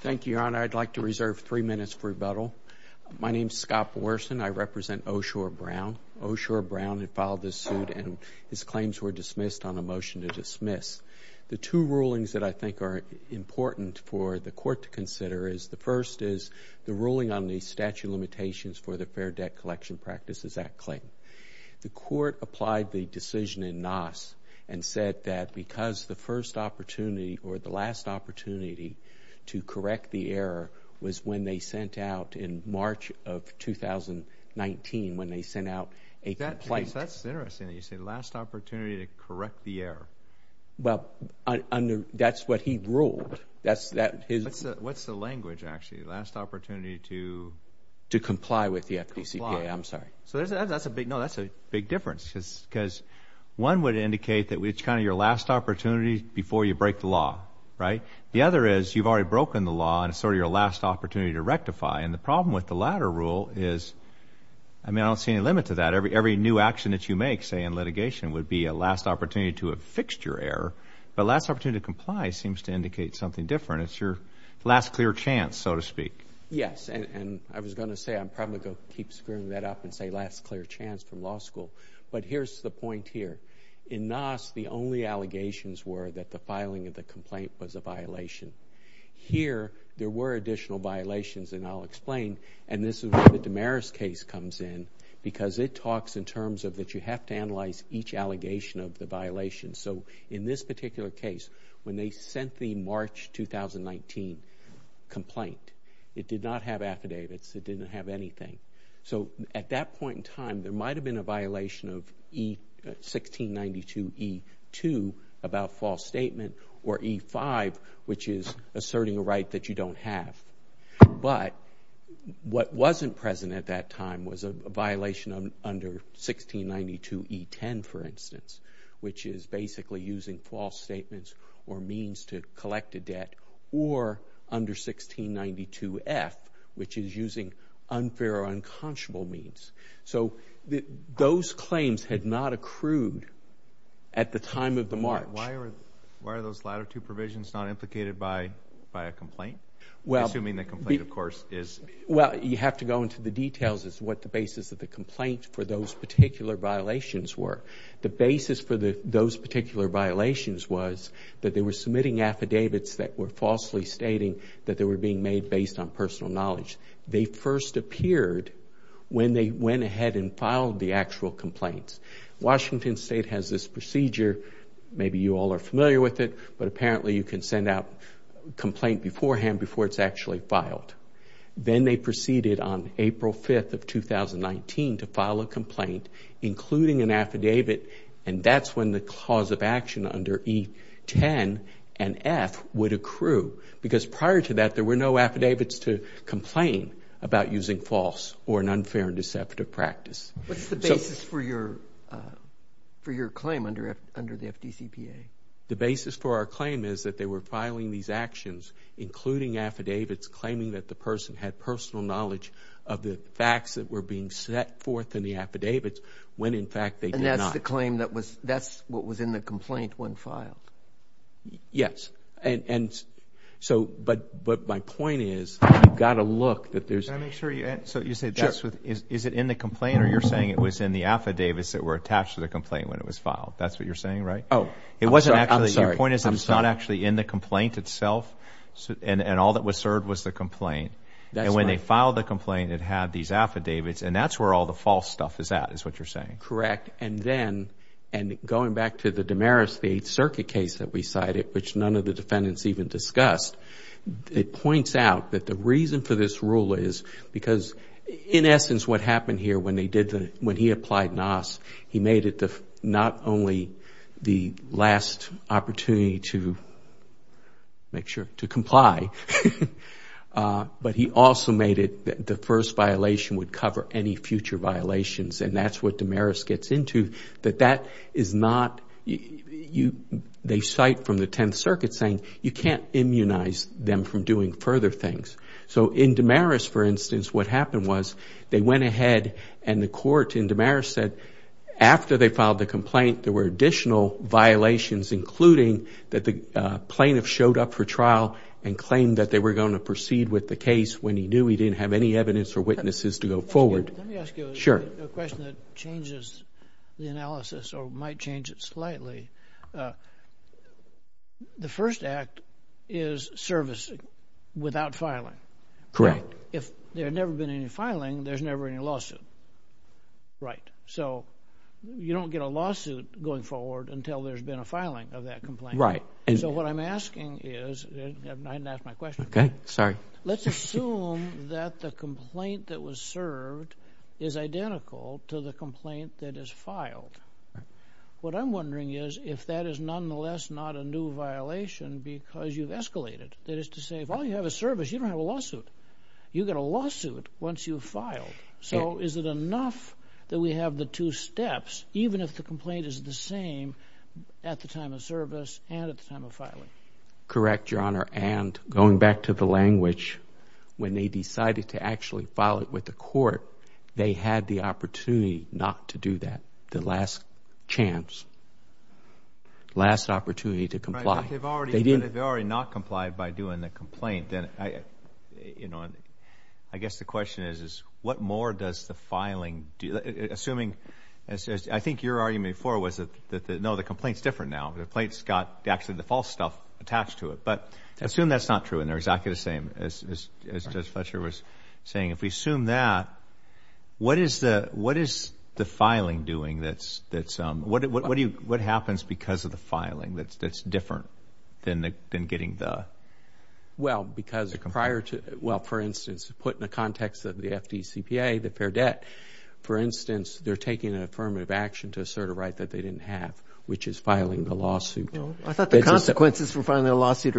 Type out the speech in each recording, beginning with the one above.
Thank you, Your Honor. I'd like to reserve three minutes for rebuttal. My name is Scott Powerson. I represent Osure Brown. Osure Brown had filed this suit, and his claims were dismissed on a motion to dismiss. The two rulings that I think are important for the Court to consider is, the first is the ruling on the statute of limitations for the Fair Debt Collection Practices Act claim. The Court applied the decision in Nass and said that because the first opportunity, or the last opportunity, to correct the error was when they sent out in March of 2019, when they sent out a complaint. That's interesting that you say, last opportunity to correct the error. Well, that's what he ruled. What's the language, actually? Last opportunity to… To comply with the FPCPA, I'm sorry. No, that's a big difference. Because one would indicate that it's kind of your last opportunity before you break the law, right? The other is, you've already broken the law, and it's sort of your last opportunity to rectify. And the problem with the latter rule is, I mean, I don't see any limit to that. Every new action that you make, say, in litigation, would be a last opportunity to affix your error. But last opportunity to comply seems to indicate something different. It's your last clear chance, so to speak. Yes, and I was going to say, I'm probably going to keep screwing that up and say, last clear chance from law school. But here's the point here. In NASS, the only allegations were that the filing of the complaint was a violation. Here, there were additional violations, and I'll explain. And this is where the Damaris case comes in, because it talks in terms of that you have to analyze each allegation of the violation. And so in this particular case, when they sent the March 2019 complaint, it did not have affidavits. It didn't have anything. So at that point in time, there might have been a violation of 1692E2 about false statement, or E5, which is asserting a right that you don't have. But what wasn't present at that time was a violation under 1692E10, for instance, which is basically using false statements or means to collect a debt, or under 1692F, which is using unfair or unconscionable means. So those claims had not accrued at the time of the March. Why are those latter two provisions not implicated by a complaint, assuming the complaint, of course, is? Well, you have to go into the details as to what the basis of the complaint for those particular violations were. The basis for those particular violations was that they were submitting affidavits that were falsely stating that they were being made based on personal knowledge. They first appeared when they went ahead and filed the actual complaints. Washington State has this procedure. Maybe you all are familiar with it, but apparently you can send out a complaint beforehand before it's actually filed. Then they proceeded on April 5th of 2019 to file a complaint, including an affidavit, and that's when the cause of action under E10 and F would accrue. Because prior to that, there were no affidavits to complain about using false or an unfair and deceptive practice. What's the basis for your claim under the FDCPA? The basis for our claim is that they were filing these actions, including affidavits claiming that the person had personal knowledge of the facts that were being set forth in the affidavits when, in fact, they did not. And that's the claim that was in the complaint when filed? Yes. But my point is you've got to look. Can I make sure you answer? Sure. Is it in the complaint or you're saying it was in the affidavits that were attached to the complaint when it was filed? That's what you're saying, right? Oh, I'm sorry. My point is it's not actually in the complaint itself, and all that was served was the complaint. That's right. And when they filed the complaint, it had these affidavits, and that's where all the false stuff is at is what you're saying. Correct. And then, and going back to the Damaris VIII Circuit case that we cited, which none of the defendants even discussed, it points out that the reason for this rule is because, in essence, what happened here when they did the, when he applied NAS, he made it not only the last opportunity to make sure to comply, but he also made it the first violation would cover any future violations, and that's what Damaris gets into, that that is not, they cite from the Tenth Circuit saying you can't immunize them from doing further things. So in Damaris, for instance, what happened was they went ahead and the court in Damaris said, after they filed the complaint, there were additional violations, including that the plaintiff showed up for trial and claimed that they were going to proceed with the case when he knew he didn't have any evidence or witnesses to go forward. Let me ask you a question that changes the analysis or might change it slightly. The first act is service without filing. Correct. If there had never been any filing, there's never any lawsuit. Right. So you don't get a lawsuit going forward until there's been a filing of that complaint. Right. So what I'm asking is, I didn't ask my question. Okay. Sorry. Let's assume that the complaint that was served is identical to the complaint that is filed. Right. What I'm wondering is if that is nonetheless not a new violation because you've escalated. That is to say, if all you have is service, you don't have a lawsuit. You get a lawsuit once you've filed. So is it enough that we have the two steps, even if the complaint is the same at the time of service and at the time of filing? Correct, Your Honor. And going back to the language, when they decided to actually file it with the court, they had the opportunity not to do that, the last chance, last opportunity to comply. Right. But they've already not complied by doing the complaint. I guess the question is, what more does the filing do? Assuming, I think your argument before was that, no, the complaint's different now. The complaint's got actually the false stuff attached to it. But assume that's not true and they're exactly the same, as Judge Fletcher was saying. If we assume that, what is the filing doing that's ‑‑ what happens because of the filing that's different than getting the ‑‑ Well, because prior to ‑‑ well, for instance, put in the context of the FDCPA, the fair debt, for instance, they're taking an affirmative action to assert a right that they didn't have, which is filing the lawsuit. I thought the consequences for filing a lawsuit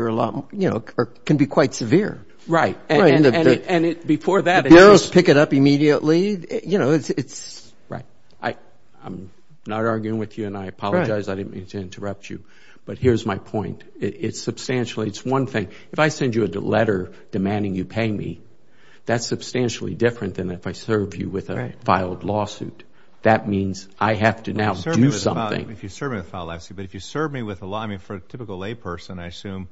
can be quite severe. Right. And before that, if you just pick it up immediately, you know, it's ‑‑ Right. I'm not arguing with you, and I apologize. I didn't mean to interrupt you. But here's my point. It's substantially ‑‑ it's one thing. If I send you a letter demanding you pay me, that's substantially different than if I serve you with a filed lawsuit. That means I have to now do something. If you serve me with a filed lawsuit. But if you serve me with a law ‑‑ I mean, for a typical layperson, I assume,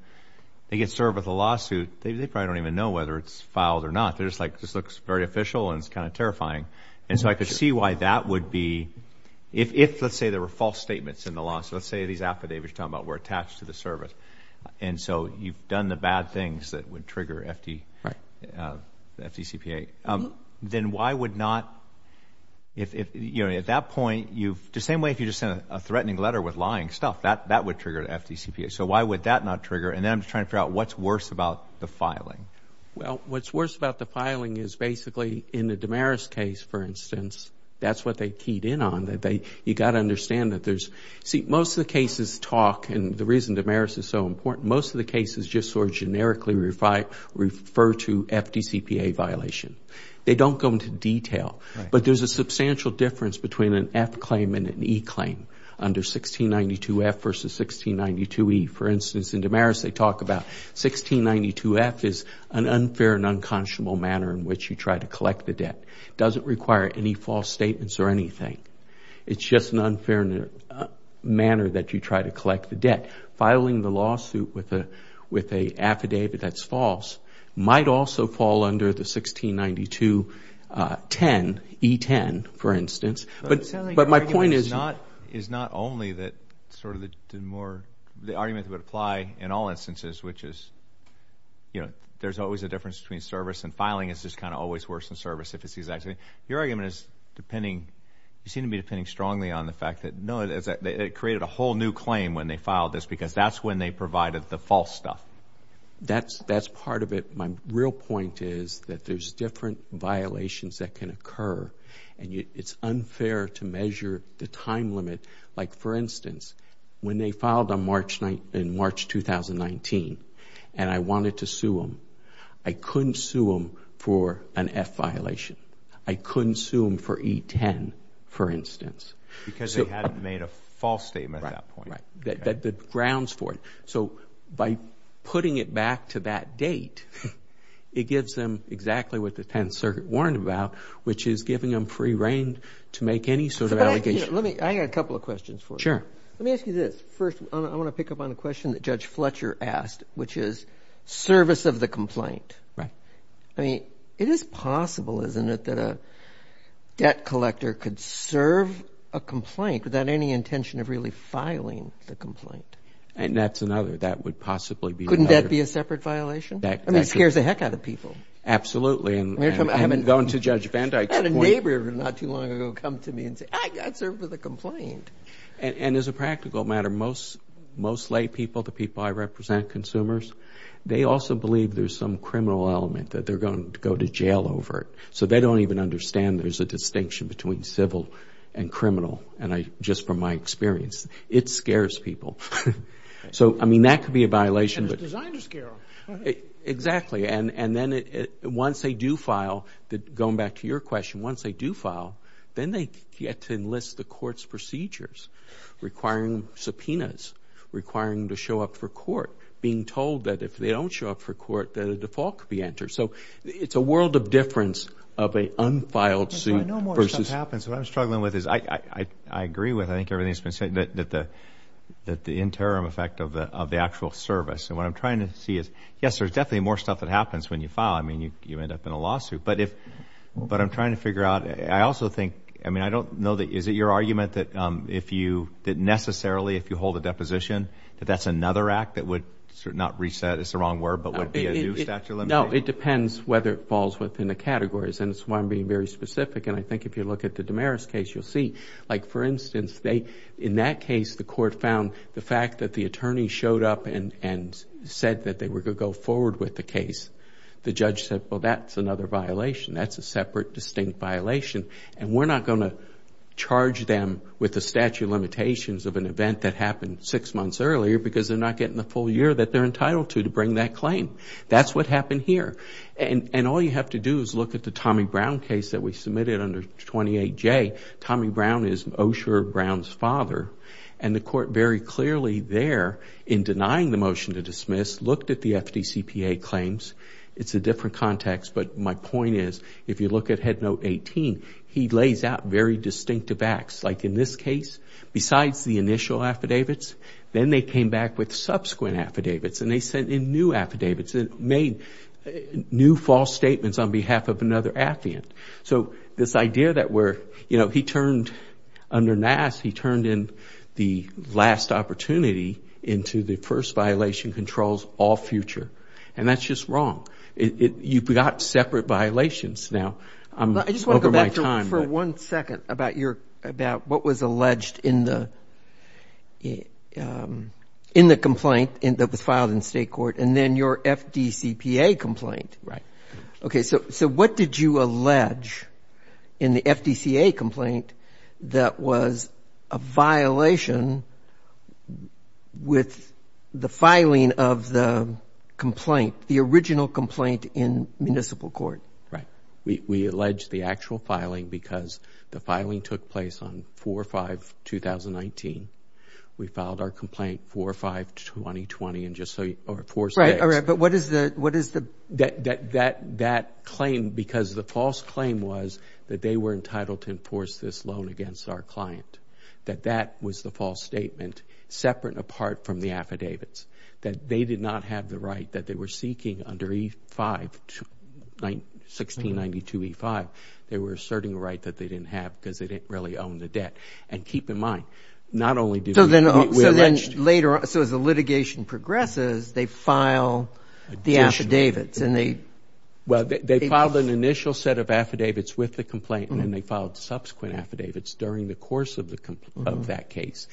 if they get served with a lawsuit, they probably don't even know whether it's filed or not. They're just like, this looks very official and it's kind of terrifying. And so I could see why that would be, if, let's say, there were false statements in the lawsuit. Let's say these affidavits you're talking about were attached to the service. And so you've done the bad things that would trigger FDCPA. Then why would not, you know, at that point, you've ‑‑ the same way if you just sent a threatening letter with lying stuff, that would trigger FDCPA. So why would that not trigger? And then I'm just trying to figure out what's worse about the filing. Well, what's worse about the filing is basically in the Damaris case, for instance, that's what they keyed in on. You've got to understand that there's ‑‑ see, most of the cases talk, and the reason Damaris is so important, most of the cases just sort of generically refer to FDCPA violation. They don't go into detail. But there's a substantial difference between an F claim and an E claim under 1692F versus 1692E. For instance, in Damaris, they talk about 1692F is an unfair and unconscionable manner in which you try to collect the debt. It doesn't require any false statements or anything. It's just an unfair manner that you try to collect the debt. Filing the lawsuit with an affidavit that's false might also fall under the 169210, E10, for instance. But my point is ‑‑ It sounds like your argument is not only that sort of the argument that would apply in all instances, which is, you know, there's always a difference between service and filing is just kind of always worse than service if it's the exact same. Your argument is depending ‑‑ you seem to be depending strongly on the fact that, no, it created a whole new claim when they filed this because that's when they provided the false stuff. That's part of it. My real point is that there's different violations that can occur, and it's unfair to measure the time limit. Like, for instance, when they filed in March 2019 and I wanted to sue them, I couldn't sue them for an F violation. I couldn't sue them for E10, for instance. Because they hadn't made a false statement at that point. Right. The grounds for it. So by putting it back to that date, it gives them exactly what the 10th Circuit warned about, which is giving them free rein to make any sort of allegation. I got a couple of questions for you. Sure. Let me ask you this. First, I want to pick up on a question that Judge Fletcher asked, which is service of the complaint. Right. I mean, it is possible, isn't it, that a debt collector could serve a complaint without any intention of really filing the complaint? And that's another. That would possibly be better. Couldn't that be a separate violation? I mean, it scares the heck out of people. Absolutely. And going to Judge Van Dyke's point. I had a neighbor not too long ago come to me and say, I'd serve with a complaint. And as a practical matter, most lay people, the people I represent, consumers, they also believe there's some criminal element, that they're going to go to jail over it. So they don't even understand there's a distinction between civil and criminal, just from my experience. It scares people. So, I mean, that could be a violation. And it's designed to scare them. Exactly. And then once they do file, going back to your question, once they do file, then they get to enlist the court's procedures requiring subpoenas, requiring to show up for court, being told that if they don't show up for court that a default could be entered. So it's a world of difference of an unfiled suit versus... I know more stuff happens. What I'm struggling with is I agree with I think everything that's been said, that the interim effect of the actual service. And what I'm trying to see is, yes, there's definitely more stuff that happens when you file. I mean, you end up in a lawsuit. But I'm trying to figure out... I also think... I mean, I don't know that... Is it your argument that necessarily if you hold a deposition, that that's another act that would not reset... it's the wrong word, but would be a new statute of limitations? No, it depends whether it falls within the categories. And it's why I'm being very specific. And I think if you look at the Damaris case, you'll see. Like, for instance, in that case, the court found the fact that the attorney showed up and said that they were going to go forward with the case. The judge said, well, that's another violation. That's a separate, distinct violation. And we're not going to charge them with the statute of limitations of an event that happened six months earlier because they're not getting the full year that they're entitled to to bring that claim. That's what happened here. And all you have to do is look at the Tommy Brown case that we submitted under 28J. Tommy Brown is Osher Brown's father. And the court very clearly there, in denying the motion to dismiss, looked at the FDCPA claims. It's a different context. But my point is, if you look at Headnote 18, he lays out very distinctive acts. Like in this case, besides the initial affidavits, then they came back with subsequent affidavits. And they sent in new affidavits and made new false statements on behalf of another affiant. So this idea that we're, you know, he turned under Nass, he turned in the last opportunity into the first violation controls all future. And that's just wrong. You've got separate violations now over my time. I just want to go back for one second about what was alleged in the complaint that was filed in state court and then your FDCPA complaint. Right. Okay. So what did you allege in the FDCPA complaint that was a violation with the filing of the complaint, the original complaint in municipal court? Right. We allege the actual filing because the filing took place on 4-5-2019. We filed our complaint 4-5-2020 in just four states. Right. And that claim, because the false claim was that they were entitled to enforce this loan against our client, that that was the false statement separate and apart from the affidavits, that they did not have the right that they were seeking under E-5, 1692E-5. They were asserting a right that they didn't have because they didn't really own the debt. And keep in mind, not only did we allege it. So then later on, so as the litigation progresses, they file the affidavits and they – Well, they filed an initial set of affidavits with the complaint and then they filed subsequent affidavits during the course of that case.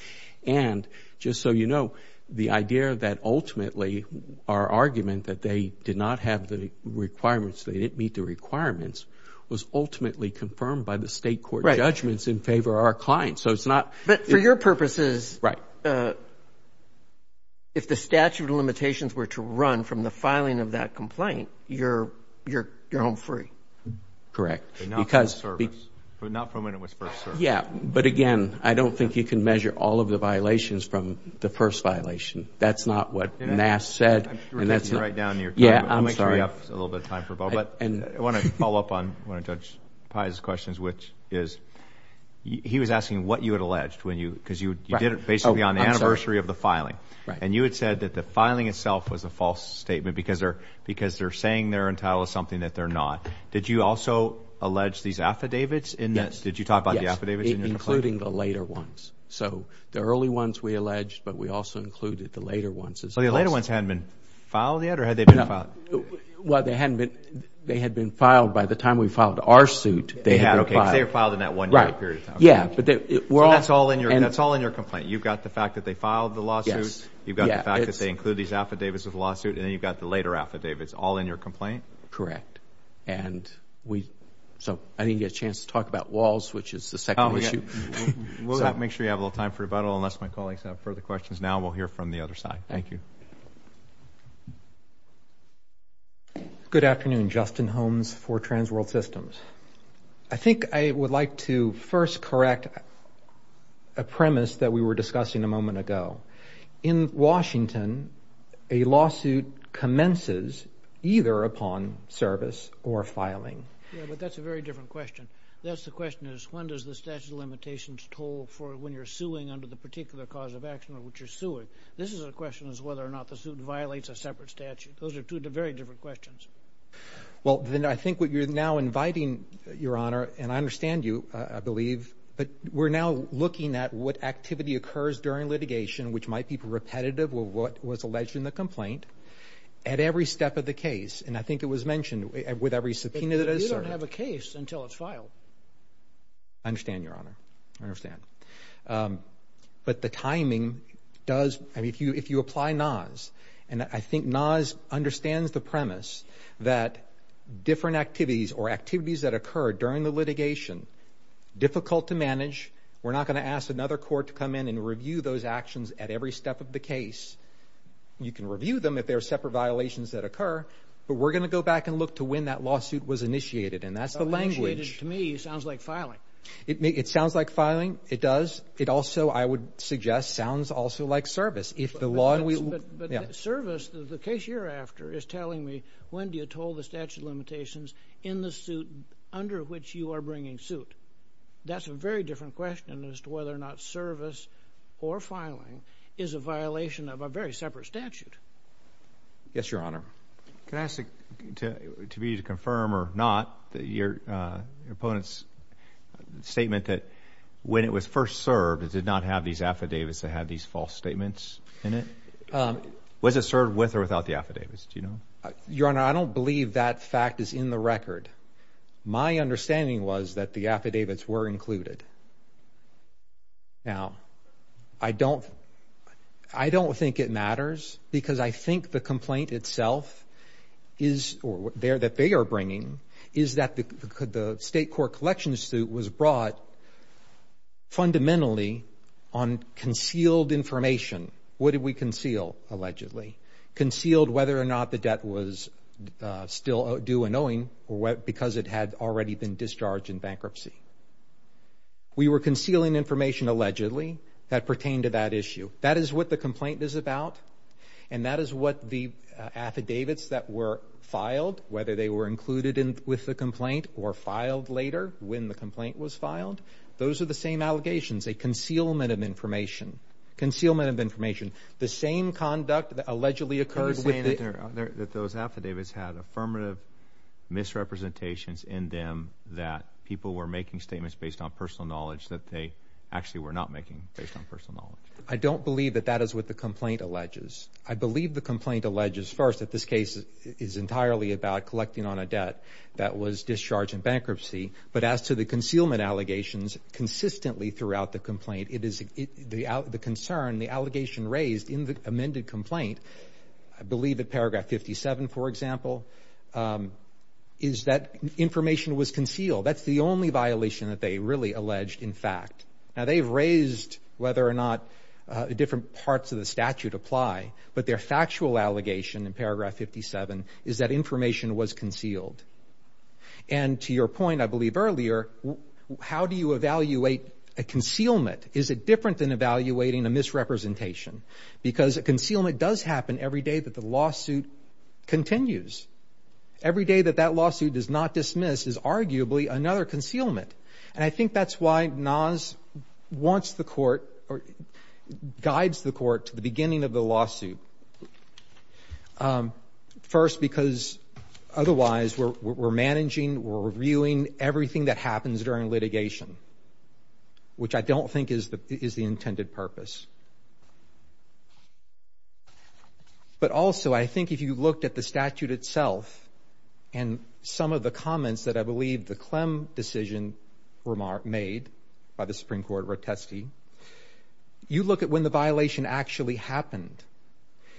And just so you know, the idea that ultimately our argument that they did not have the requirements, they didn't meet the requirements, was ultimately confirmed by the state court judgments in favor of our client. So it's not – But for your purposes, if the statute of limitations were to run from the filing of that complaint, you're home free. Correct. But not from when it was first served. Yeah. But again, I don't think you can measure all of the violations from the first violation. That's not what Nass said. I'm sure that's right down to your time. Yeah, I'm sorry. I'll make sure you have a little bit of time for Bob. But I want to follow up on one of Judge Pai's questions, which is he was asking what you had alleged when you – because you did it basically on the anniversary of the filing. Right. And you had said that the filing itself was a false statement because they're saying they're entitled to something that they're not. Did you also allege these affidavits in this? Yes. Did you talk about the affidavits in your complaint? Yes, including the later ones. So the early ones we alleged, but we also included the later ones as well. So the later ones hadn't been filed yet, or had they been filed? Well, they hadn't been – they had been filed by the time we filed our suit. They had been filed. Because they were filed in that one period of time. Right. Yeah. So that's all in your complaint. You've got the fact that they filed the lawsuit. Yes. You've got the fact that they included these affidavits with the lawsuit, and then you've got the later affidavits all in your complaint? Correct. And we – so I didn't get a chance to talk about walls, which is the second issue. Oh, yeah. We'll make sure you have a little time for rebuttal, unless my colleagues have further questions. Now we'll hear from the other side. Thank you. Good afternoon. Justin Holmes for Transworld Systems. I think I would like to first correct a premise that we were discussing a moment ago. In Washington, a lawsuit commences either upon service or filing. Yeah, but that's a very different question. That's the question is when does the statute of limitations hold for when you're suing under the particular cause of action of which you're suing? This is a question as whether or not the suit violates a separate statute. Those are two very different questions. Well, then I think what you're now inviting, Your Honor, and I understand you, I believe, but we're now looking at what activity occurs during litigation, which might be repetitive of what was alleged in the complaint, at every step of the case, and I think it was mentioned with every subpoena that is served. You don't have a case until it's filed. I understand, Your Honor. I understand. But the timing does – I mean, if you apply NAS, and I think NAS understands the premise that different activities or activities that occur during the litigation, difficult to manage. We're not going to ask another court to come in and review those actions at every step of the case. You can review them if there are separate violations that occur, but we're going to go back and look to when that lawsuit was initiated, and that's the language. Initiated to me sounds like filing. It sounds like filing. It does. It also, I would suggest, sounds also like service. But service, the case you're after is telling me when do you toll the statute of limitations in the suit under which you are bringing suit. That's a very different question as to whether or not service or filing is a violation of a very separate statute. Yes, Your Honor. Can I ask the committee to confirm or not your opponent's statement that when it was first served, it did not have these affidavits that had these false statements in it? Was it served with or without the affidavits? Do you know? Your Honor, I don't believe that fact is in the record. My understanding was that the affidavits were included. Now, I don't think it matters because I think the complaint itself is, or that they are bringing, is that the state court collection suit was brought fundamentally on concealed information. What did we conceal, allegedly? Concealed whether or not the debt was still due and owing because it had already been discharged in bankruptcy. We were concealing information, allegedly, that pertained to that issue. That is what the complaint is about, and that is what the affidavits that were filed, whether they were included with the complaint or filed later when the complaint was filed, those are the same allegations, a concealment of information. Concealment of information. The same conduct that allegedly occurred with it. Are you saying that those affidavits had affirmative misrepresentations in them that people were making statements based on personal knowledge that they actually were not making based on personal knowledge? I don't believe that that is what the complaint alleges. I believe the complaint alleges, first, that this case is entirely about collecting on a debt that was discharged in bankruptcy, but as to the concealment allegations, consistently throughout the complaint, the concern, the allegation raised in the amended complaint, I believe at paragraph 57, for example, is that information was concealed. That is the only violation that they really alleged, in fact. Now, they've raised whether or not different parts of the statute apply, but their factual allegation in paragraph 57 is that information was concealed. And to your point, I believe, earlier, how do you evaluate a concealment? Is it different than evaluating a misrepresentation? Because a concealment does happen every day that the lawsuit continues. Every day that that lawsuit is not dismissed is arguably another concealment. And I think that's why NAS wants the court or guides the court to the beginning of the lawsuit. First, because otherwise we're managing, we're reviewing everything that happens during litigation, which I don't think is the intended purpose. But also, I think if you looked at the statute itself and some of the comments that I believe the Clem decision made by the Supreme Court rotesti, you look at when the violation actually happened.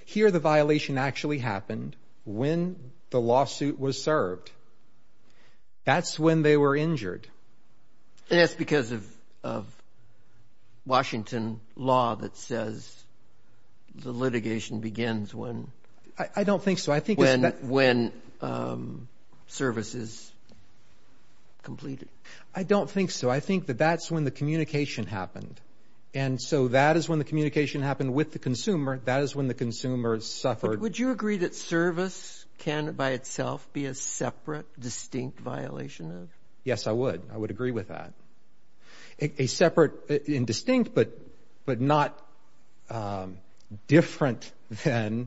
Here the violation actually happened when the lawsuit was served. That's when they were injured. And that's because of Washington law that says the litigation begins when? I don't think so. When service is completed. I don't think so. I think that that's when the communication happened. And so that is when the communication happened with the consumer. That is when the consumer suffered. Would you agree that service can, by itself, be a separate, distinct violation of? Yes, I would. I would agree with that. A separate and distinct, but not different than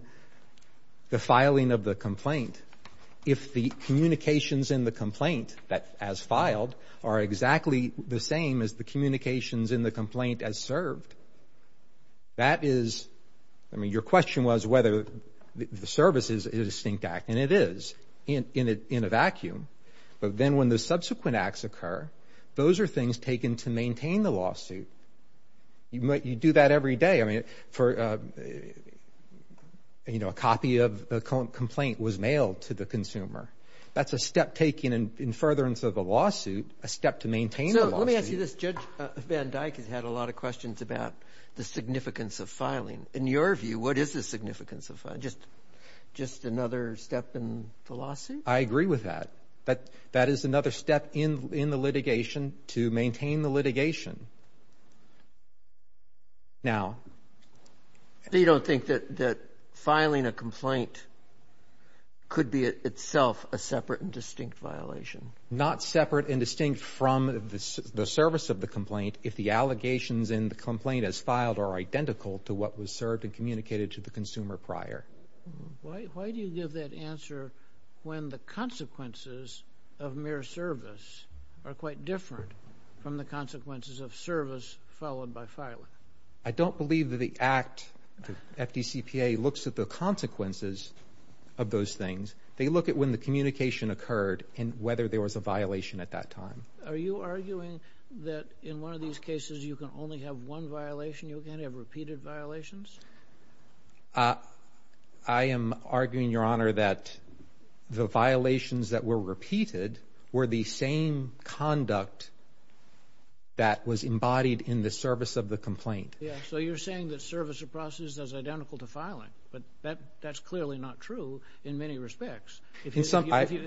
the filing of the complaint. If the communications in the complaint, as filed, are exactly the same as the communications in the complaint as served, that is, I mean your question was whether the service is a distinct act, and it is in a vacuum. But then when the subsequent acts occur, those are things taken to maintain the lawsuit. You do that every day. A copy of the complaint was mailed to the consumer. That's a step taken in furtherance of the lawsuit, a step to maintain the lawsuit. So let me ask you this. Judge Van Dyck has had a lot of questions about the significance of filing. In your view, what is the significance of filing? Just another step in the lawsuit? I agree with that. That is another step in the litigation to maintain the litigation. Now— So you don't think that filing a complaint could be itself a separate and distinct violation? Not separate and distinct from the service of the complaint if the allegations in the complaint, as filed, are identical to what was served and communicated to the consumer prior. Why do you give that answer when the consequences of mere service are quite different from the consequences of service followed by filing? I don't believe that the act, the FDCPA, looks at the consequences of those things. They look at when the communication occurred and whether there was a violation at that time. Are you arguing that in one of these cases you can only have one violation? You can't have repeated violations? I am arguing, Your Honor, that the violations that were repeated were the same conduct that was embodied in the service of the complaint. So you're saying that service of process is identical to filing, but that's clearly not true in many respects. If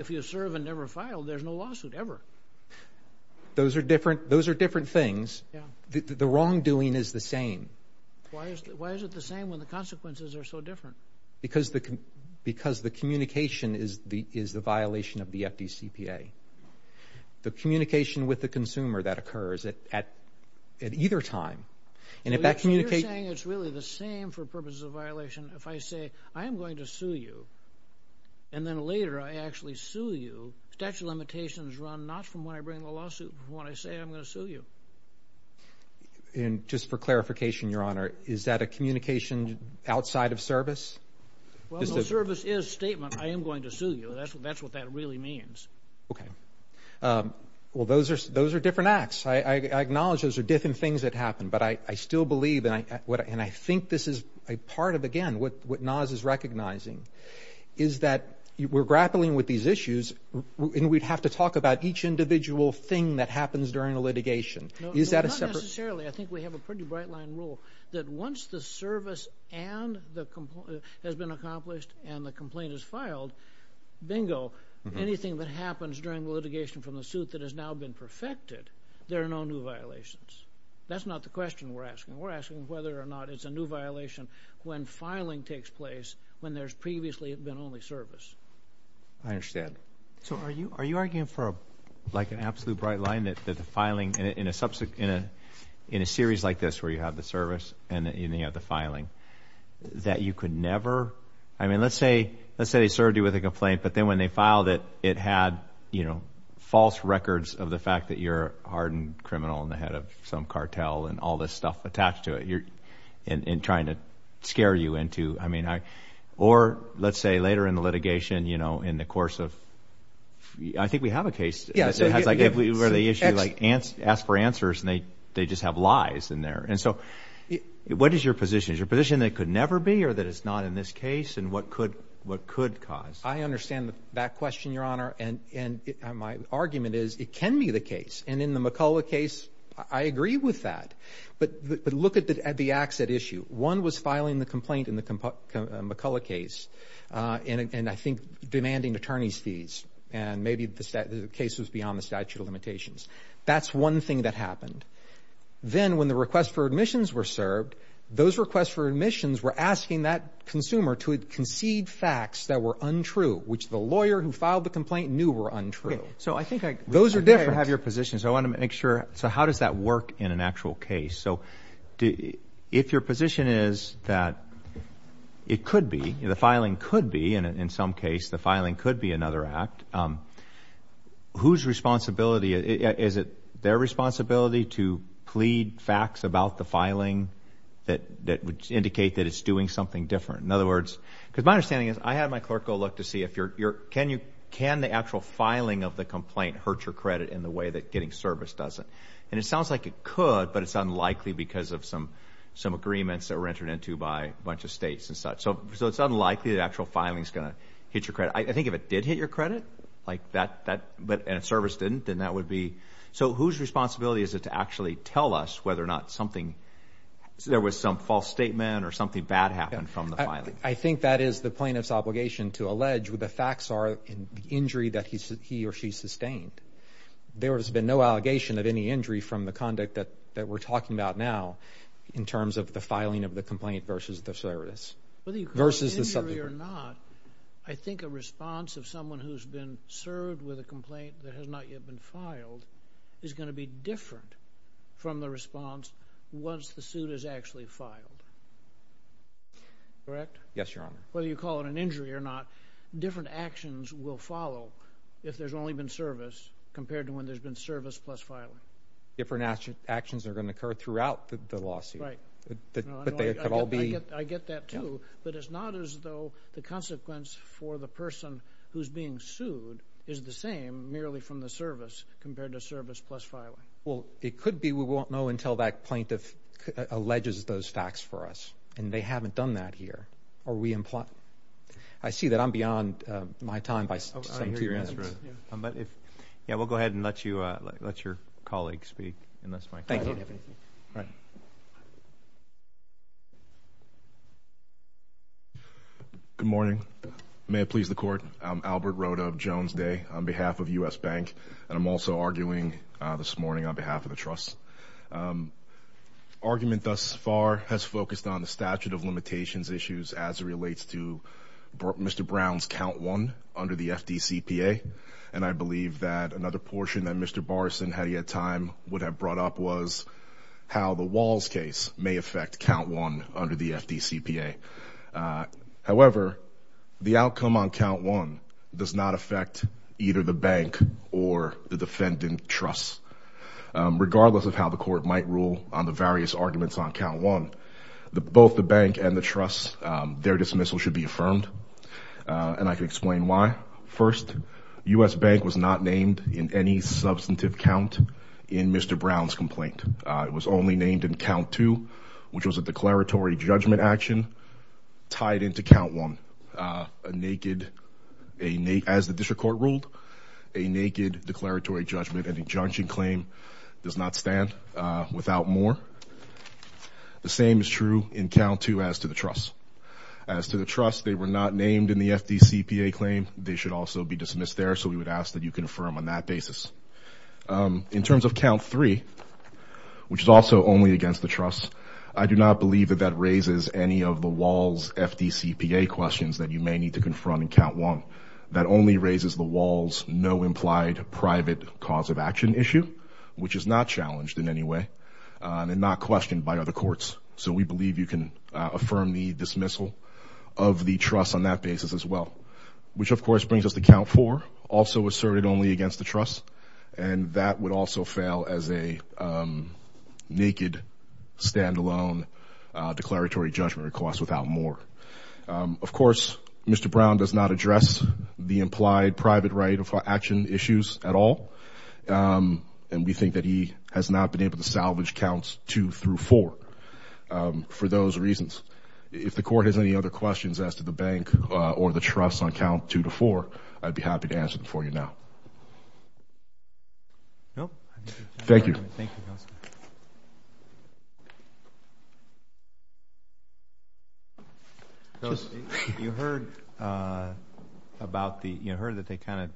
you serve and never file, there's no lawsuit ever. Those are different things. The wrongdoing is the same. Why is it the same when the consequences are so different? Because the communication is the violation of the FDCPA. The communication with the consumer, that occurs at either time. So you're saying it's really the same for purposes of violation if I say, I am going to sue you, and then later I actually sue you. Statute of limitations run not from when I bring the lawsuit, but when I say I'm going to sue you. And just for clarification, Your Honor, is that a communication outside of service? Well, no, service is statement, I am going to sue you. That's what that really means. Okay. Well, those are different acts. I acknowledge those are different things that happen, but I still believe, and I think this is a part of, again, what NAS is recognizing, is that we're grappling with these issues, and we'd have to talk about each individual thing that happens during a litigation. Not necessarily. I think we have a pretty bright-line rule that once the service has been accomplished and the complaint is filed, bingo, anything that happens during the litigation from the suit that has now been perfected, there are no new violations. That's not the question we're asking. We're asking whether or not it's a new violation when filing takes place when there's previously been only service. I understand. So are you arguing for an absolute bright line that the filing in a series like this where you have the service and then you have the filing, that you could never... I mean, let's say they served you with a complaint, but then when they filed it, it had false records of the fact that you're a hardened criminal and the head of some cartel and all this stuff attached to it, and trying to scare you into... Or let's say later in the litigation, you know, in the course of... I think we have a case where they ask for answers and they just have lies in there. And so what is your position? Is your position that it could never be or that it's not in this case? And what could cause... I understand that question, Your Honor. And my argument is it can be the case. And in the McCullough case, I agree with that. But look at the accident issue. One was filing the complaint in the McCullough case, and I think demanding attorney's fees, and maybe the case was beyond the statute of limitations. That's one thing that happened. Then when the request for admissions were served, those requests for admissions were asking that consumer to concede facts that were untrue, which the lawyer who filed the complaint knew were untrue. So I think I... Those are different. I have your position, so I want to make sure... So how does that work in an actual case? So if your position is that it could be, the filing could be, and in some case the filing could be another act, whose responsibility... Is it their responsibility to plead facts about the filing that would indicate that it's doing something different? In other words... Because my understanding is I had my clerk go look to see if your... Can the actual filing of the complaint hurt your credit in the way that getting service doesn't? And it sounds like it could, but it's unlikely because of some agreements that were entered into by a bunch of states and such. So it's unlikely the actual filing is going to hit your credit. I think if it did hit your credit, and service didn't, then that would be... So whose responsibility is it to actually tell us whether or not something... There was some false statement or something bad happened from the filing? I think that is the plaintiff's obligation to allege what the facts are in the injury that he or she sustained. There has been no allegation of any injury from the conduct that we're talking about now in terms of the filing of the complaint versus the service. Whether you call it an injury or not, I think a response of someone who's been served with a complaint that has not yet been filed is going to be different from the response once the suit is actually filed. Correct? Yes, Your Honor. Whether you call it an injury or not, different actions will follow if there's only been service compared to when there's been service plus filing. Different actions are going to occur throughout the lawsuit. Right. But they could all be... I get that, too. But it's not as though the consequence for the person who's being sued is the same merely from the service compared to service plus filing. Well, it could be we won't know until that plaintiff alleges those facts for us, and they haven't done that here. Are we... I see that I'm beyond my time. I hear your answer. We'll go ahead and let your colleague speak. Thank you. Good morning. May it please the Court. I'm Albert Rodov, Jones Day, on behalf of U.S. Bank, and I'm also arguing this morning on behalf of the Trust. Argument thus far has focused on the statute of limitations issues as it relates to Mr. Brown's count one under the FDCPA, and I believe that another portion that Mr. Barson, had he had time, would have brought up was how the Walls case may affect count one under the FDCPA. However, the outcome on count one does not affect either the bank or the defendant trust. Regardless of how the Court might rule on the various arguments on count one, both the bank and the trust, their dismissal should be affirmed, and I can explain why. First, U.S. Bank was not named in any substantive count in Mr. Brown's complaint. It was only named in count two, which was a declaratory judgment action tied into count one. As the District Court ruled, a naked declaratory judgment and injunction claim does not stand without more. The same is true in count two as to the trust. As to the trust, they were not named in the FDCPA claim. They should also be dismissed there, so we would ask that you confirm on that basis. In terms of count three, which is also only against the trust, I do not believe that that raises any of the Walls' FDCPA questions that you may need to confront in count one. That only raises the Walls' no implied private cause of action issue, which is not challenged in any way and not questioned by other courts. So we believe you can affirm the dismissal of the trust on that basis as well, which of course brings us to count four, also asserted only against the trust, and that would also fail as a naked, stand-alone declaratory judgment request without more. Of course, Mr. Brown does not address the implied private right of action issues at all, and we think that he has not been able to salvage counts two through four for those reasons. If the court has any other questions as to the bank or the trust on count two to four, I'd be happy to answer them for you now. Thank you. You heard that they kind of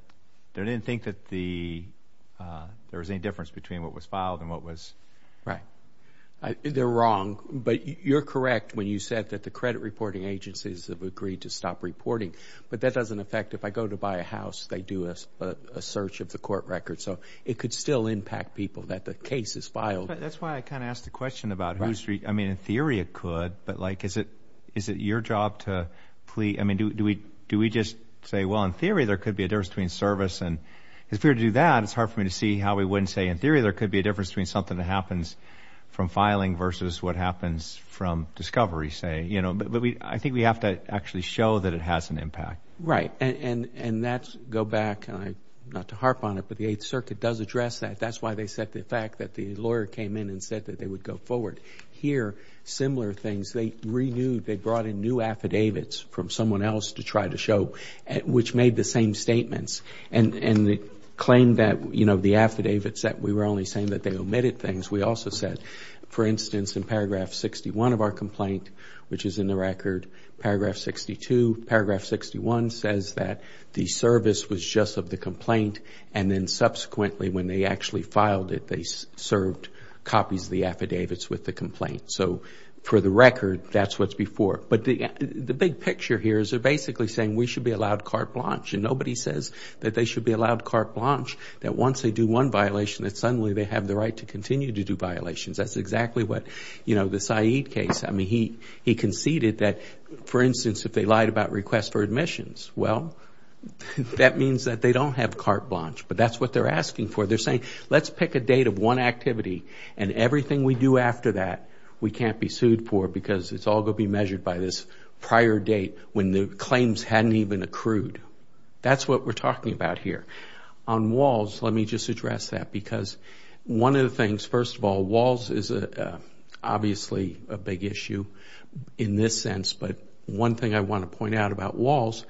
didn't think that there was any difference between what was filed and what was right. They're wrong. But you're correct when you said that the credit reporting agencies have agreed to stop reporting, but that doesn't affect if I go to buy a house, they do a search of the court record. So it could still impact people that the case is filed. That's why I kind of asked the question about, I mean, in theory it could, but, like, is it your job to plea? I mean, do we just say, well, in theory there could be a difference between service? And if we were to do that, it's hard for me to see how we wouldn't say, in theory, there could be a difference between something that happens from filing versus what happens from discovery, say. But I think we have to actually show that it has an impact. Right. And that's, go back, not to harp on it, but the Eighth Circuit does address that. That's why they said the fact that the lawyer came in and said that they would go forward. Here, similar things. They renewed, they brought in new affidavits from someone else to try to show, which made the same statements, and claimed that, you know, the affidavits that we were only saying that they omitted things. We also said, for instance, in Paragraph 61 of our complaint, which is in the record, Paragraph 62, Paragraph 61 says that the service was just of the complaint, and then subsequently, when they actually filed it, they served copies of the affidavits with the complaint. So for the record, that's what's before. But the big picture here is they're basically saying we should be allowed carte blanche, and nobody says that they should be allowed carte blanche, that once they do one violation, that suddenly they have the right to continue to do violations. That's exactly what, you know, the Said case. I mean, he conceded that, for instance, if they lied about requests for admissions, well, that means that they don't have carte blanche, but that's what they're asking for. They're saying, let's pick a date of one activity, and everything we do after that, we can't be sued for because it's all going to be measured by this prior date when the claims hadn't even accrued. That's what we're talking about here. On WALS, let me just address that because one of the things, first of all, WALS is obviously a big issue in this sense, but one thing I want to point out about WALS,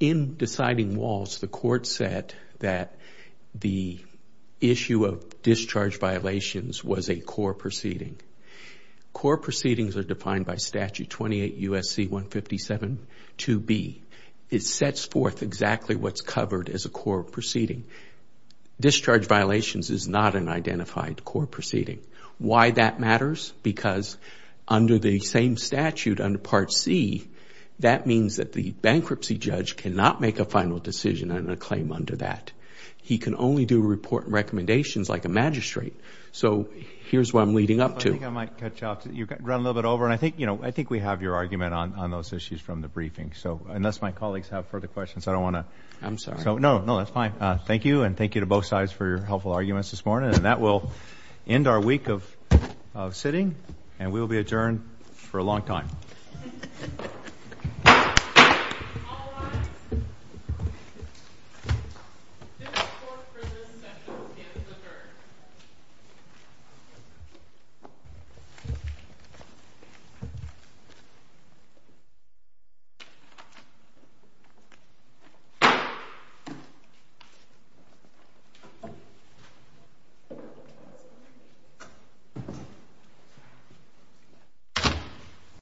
in deciding WALS, the court said that the issue of discharge violations was a core proceeding. Core proceedings are defined by Statute 28 U.S.C. 157 2B. It sets forth exactly what's covered as a core proceeding. Discharge violations is not an identified core proceeding. Why that matters? Because under the same statute, under Part C, that means that the bankruptcy judge cannot make a final decision on a claim under that. He can only do a report and recommendations like a magistrate. So here's what I'm leading up to. I think I might cut you off. You ran a little bit over, and I think we have your argument on those issues from the briefing. So unless my colleagues have further questions, I don't want to. I'm sorry. No, that's fine. Thank you, and thank you to both sides for your helpful arguments this morning. And that will end our week of sitting, and we will be adjourned for a long time. All rise. This court for this session stands adjourned.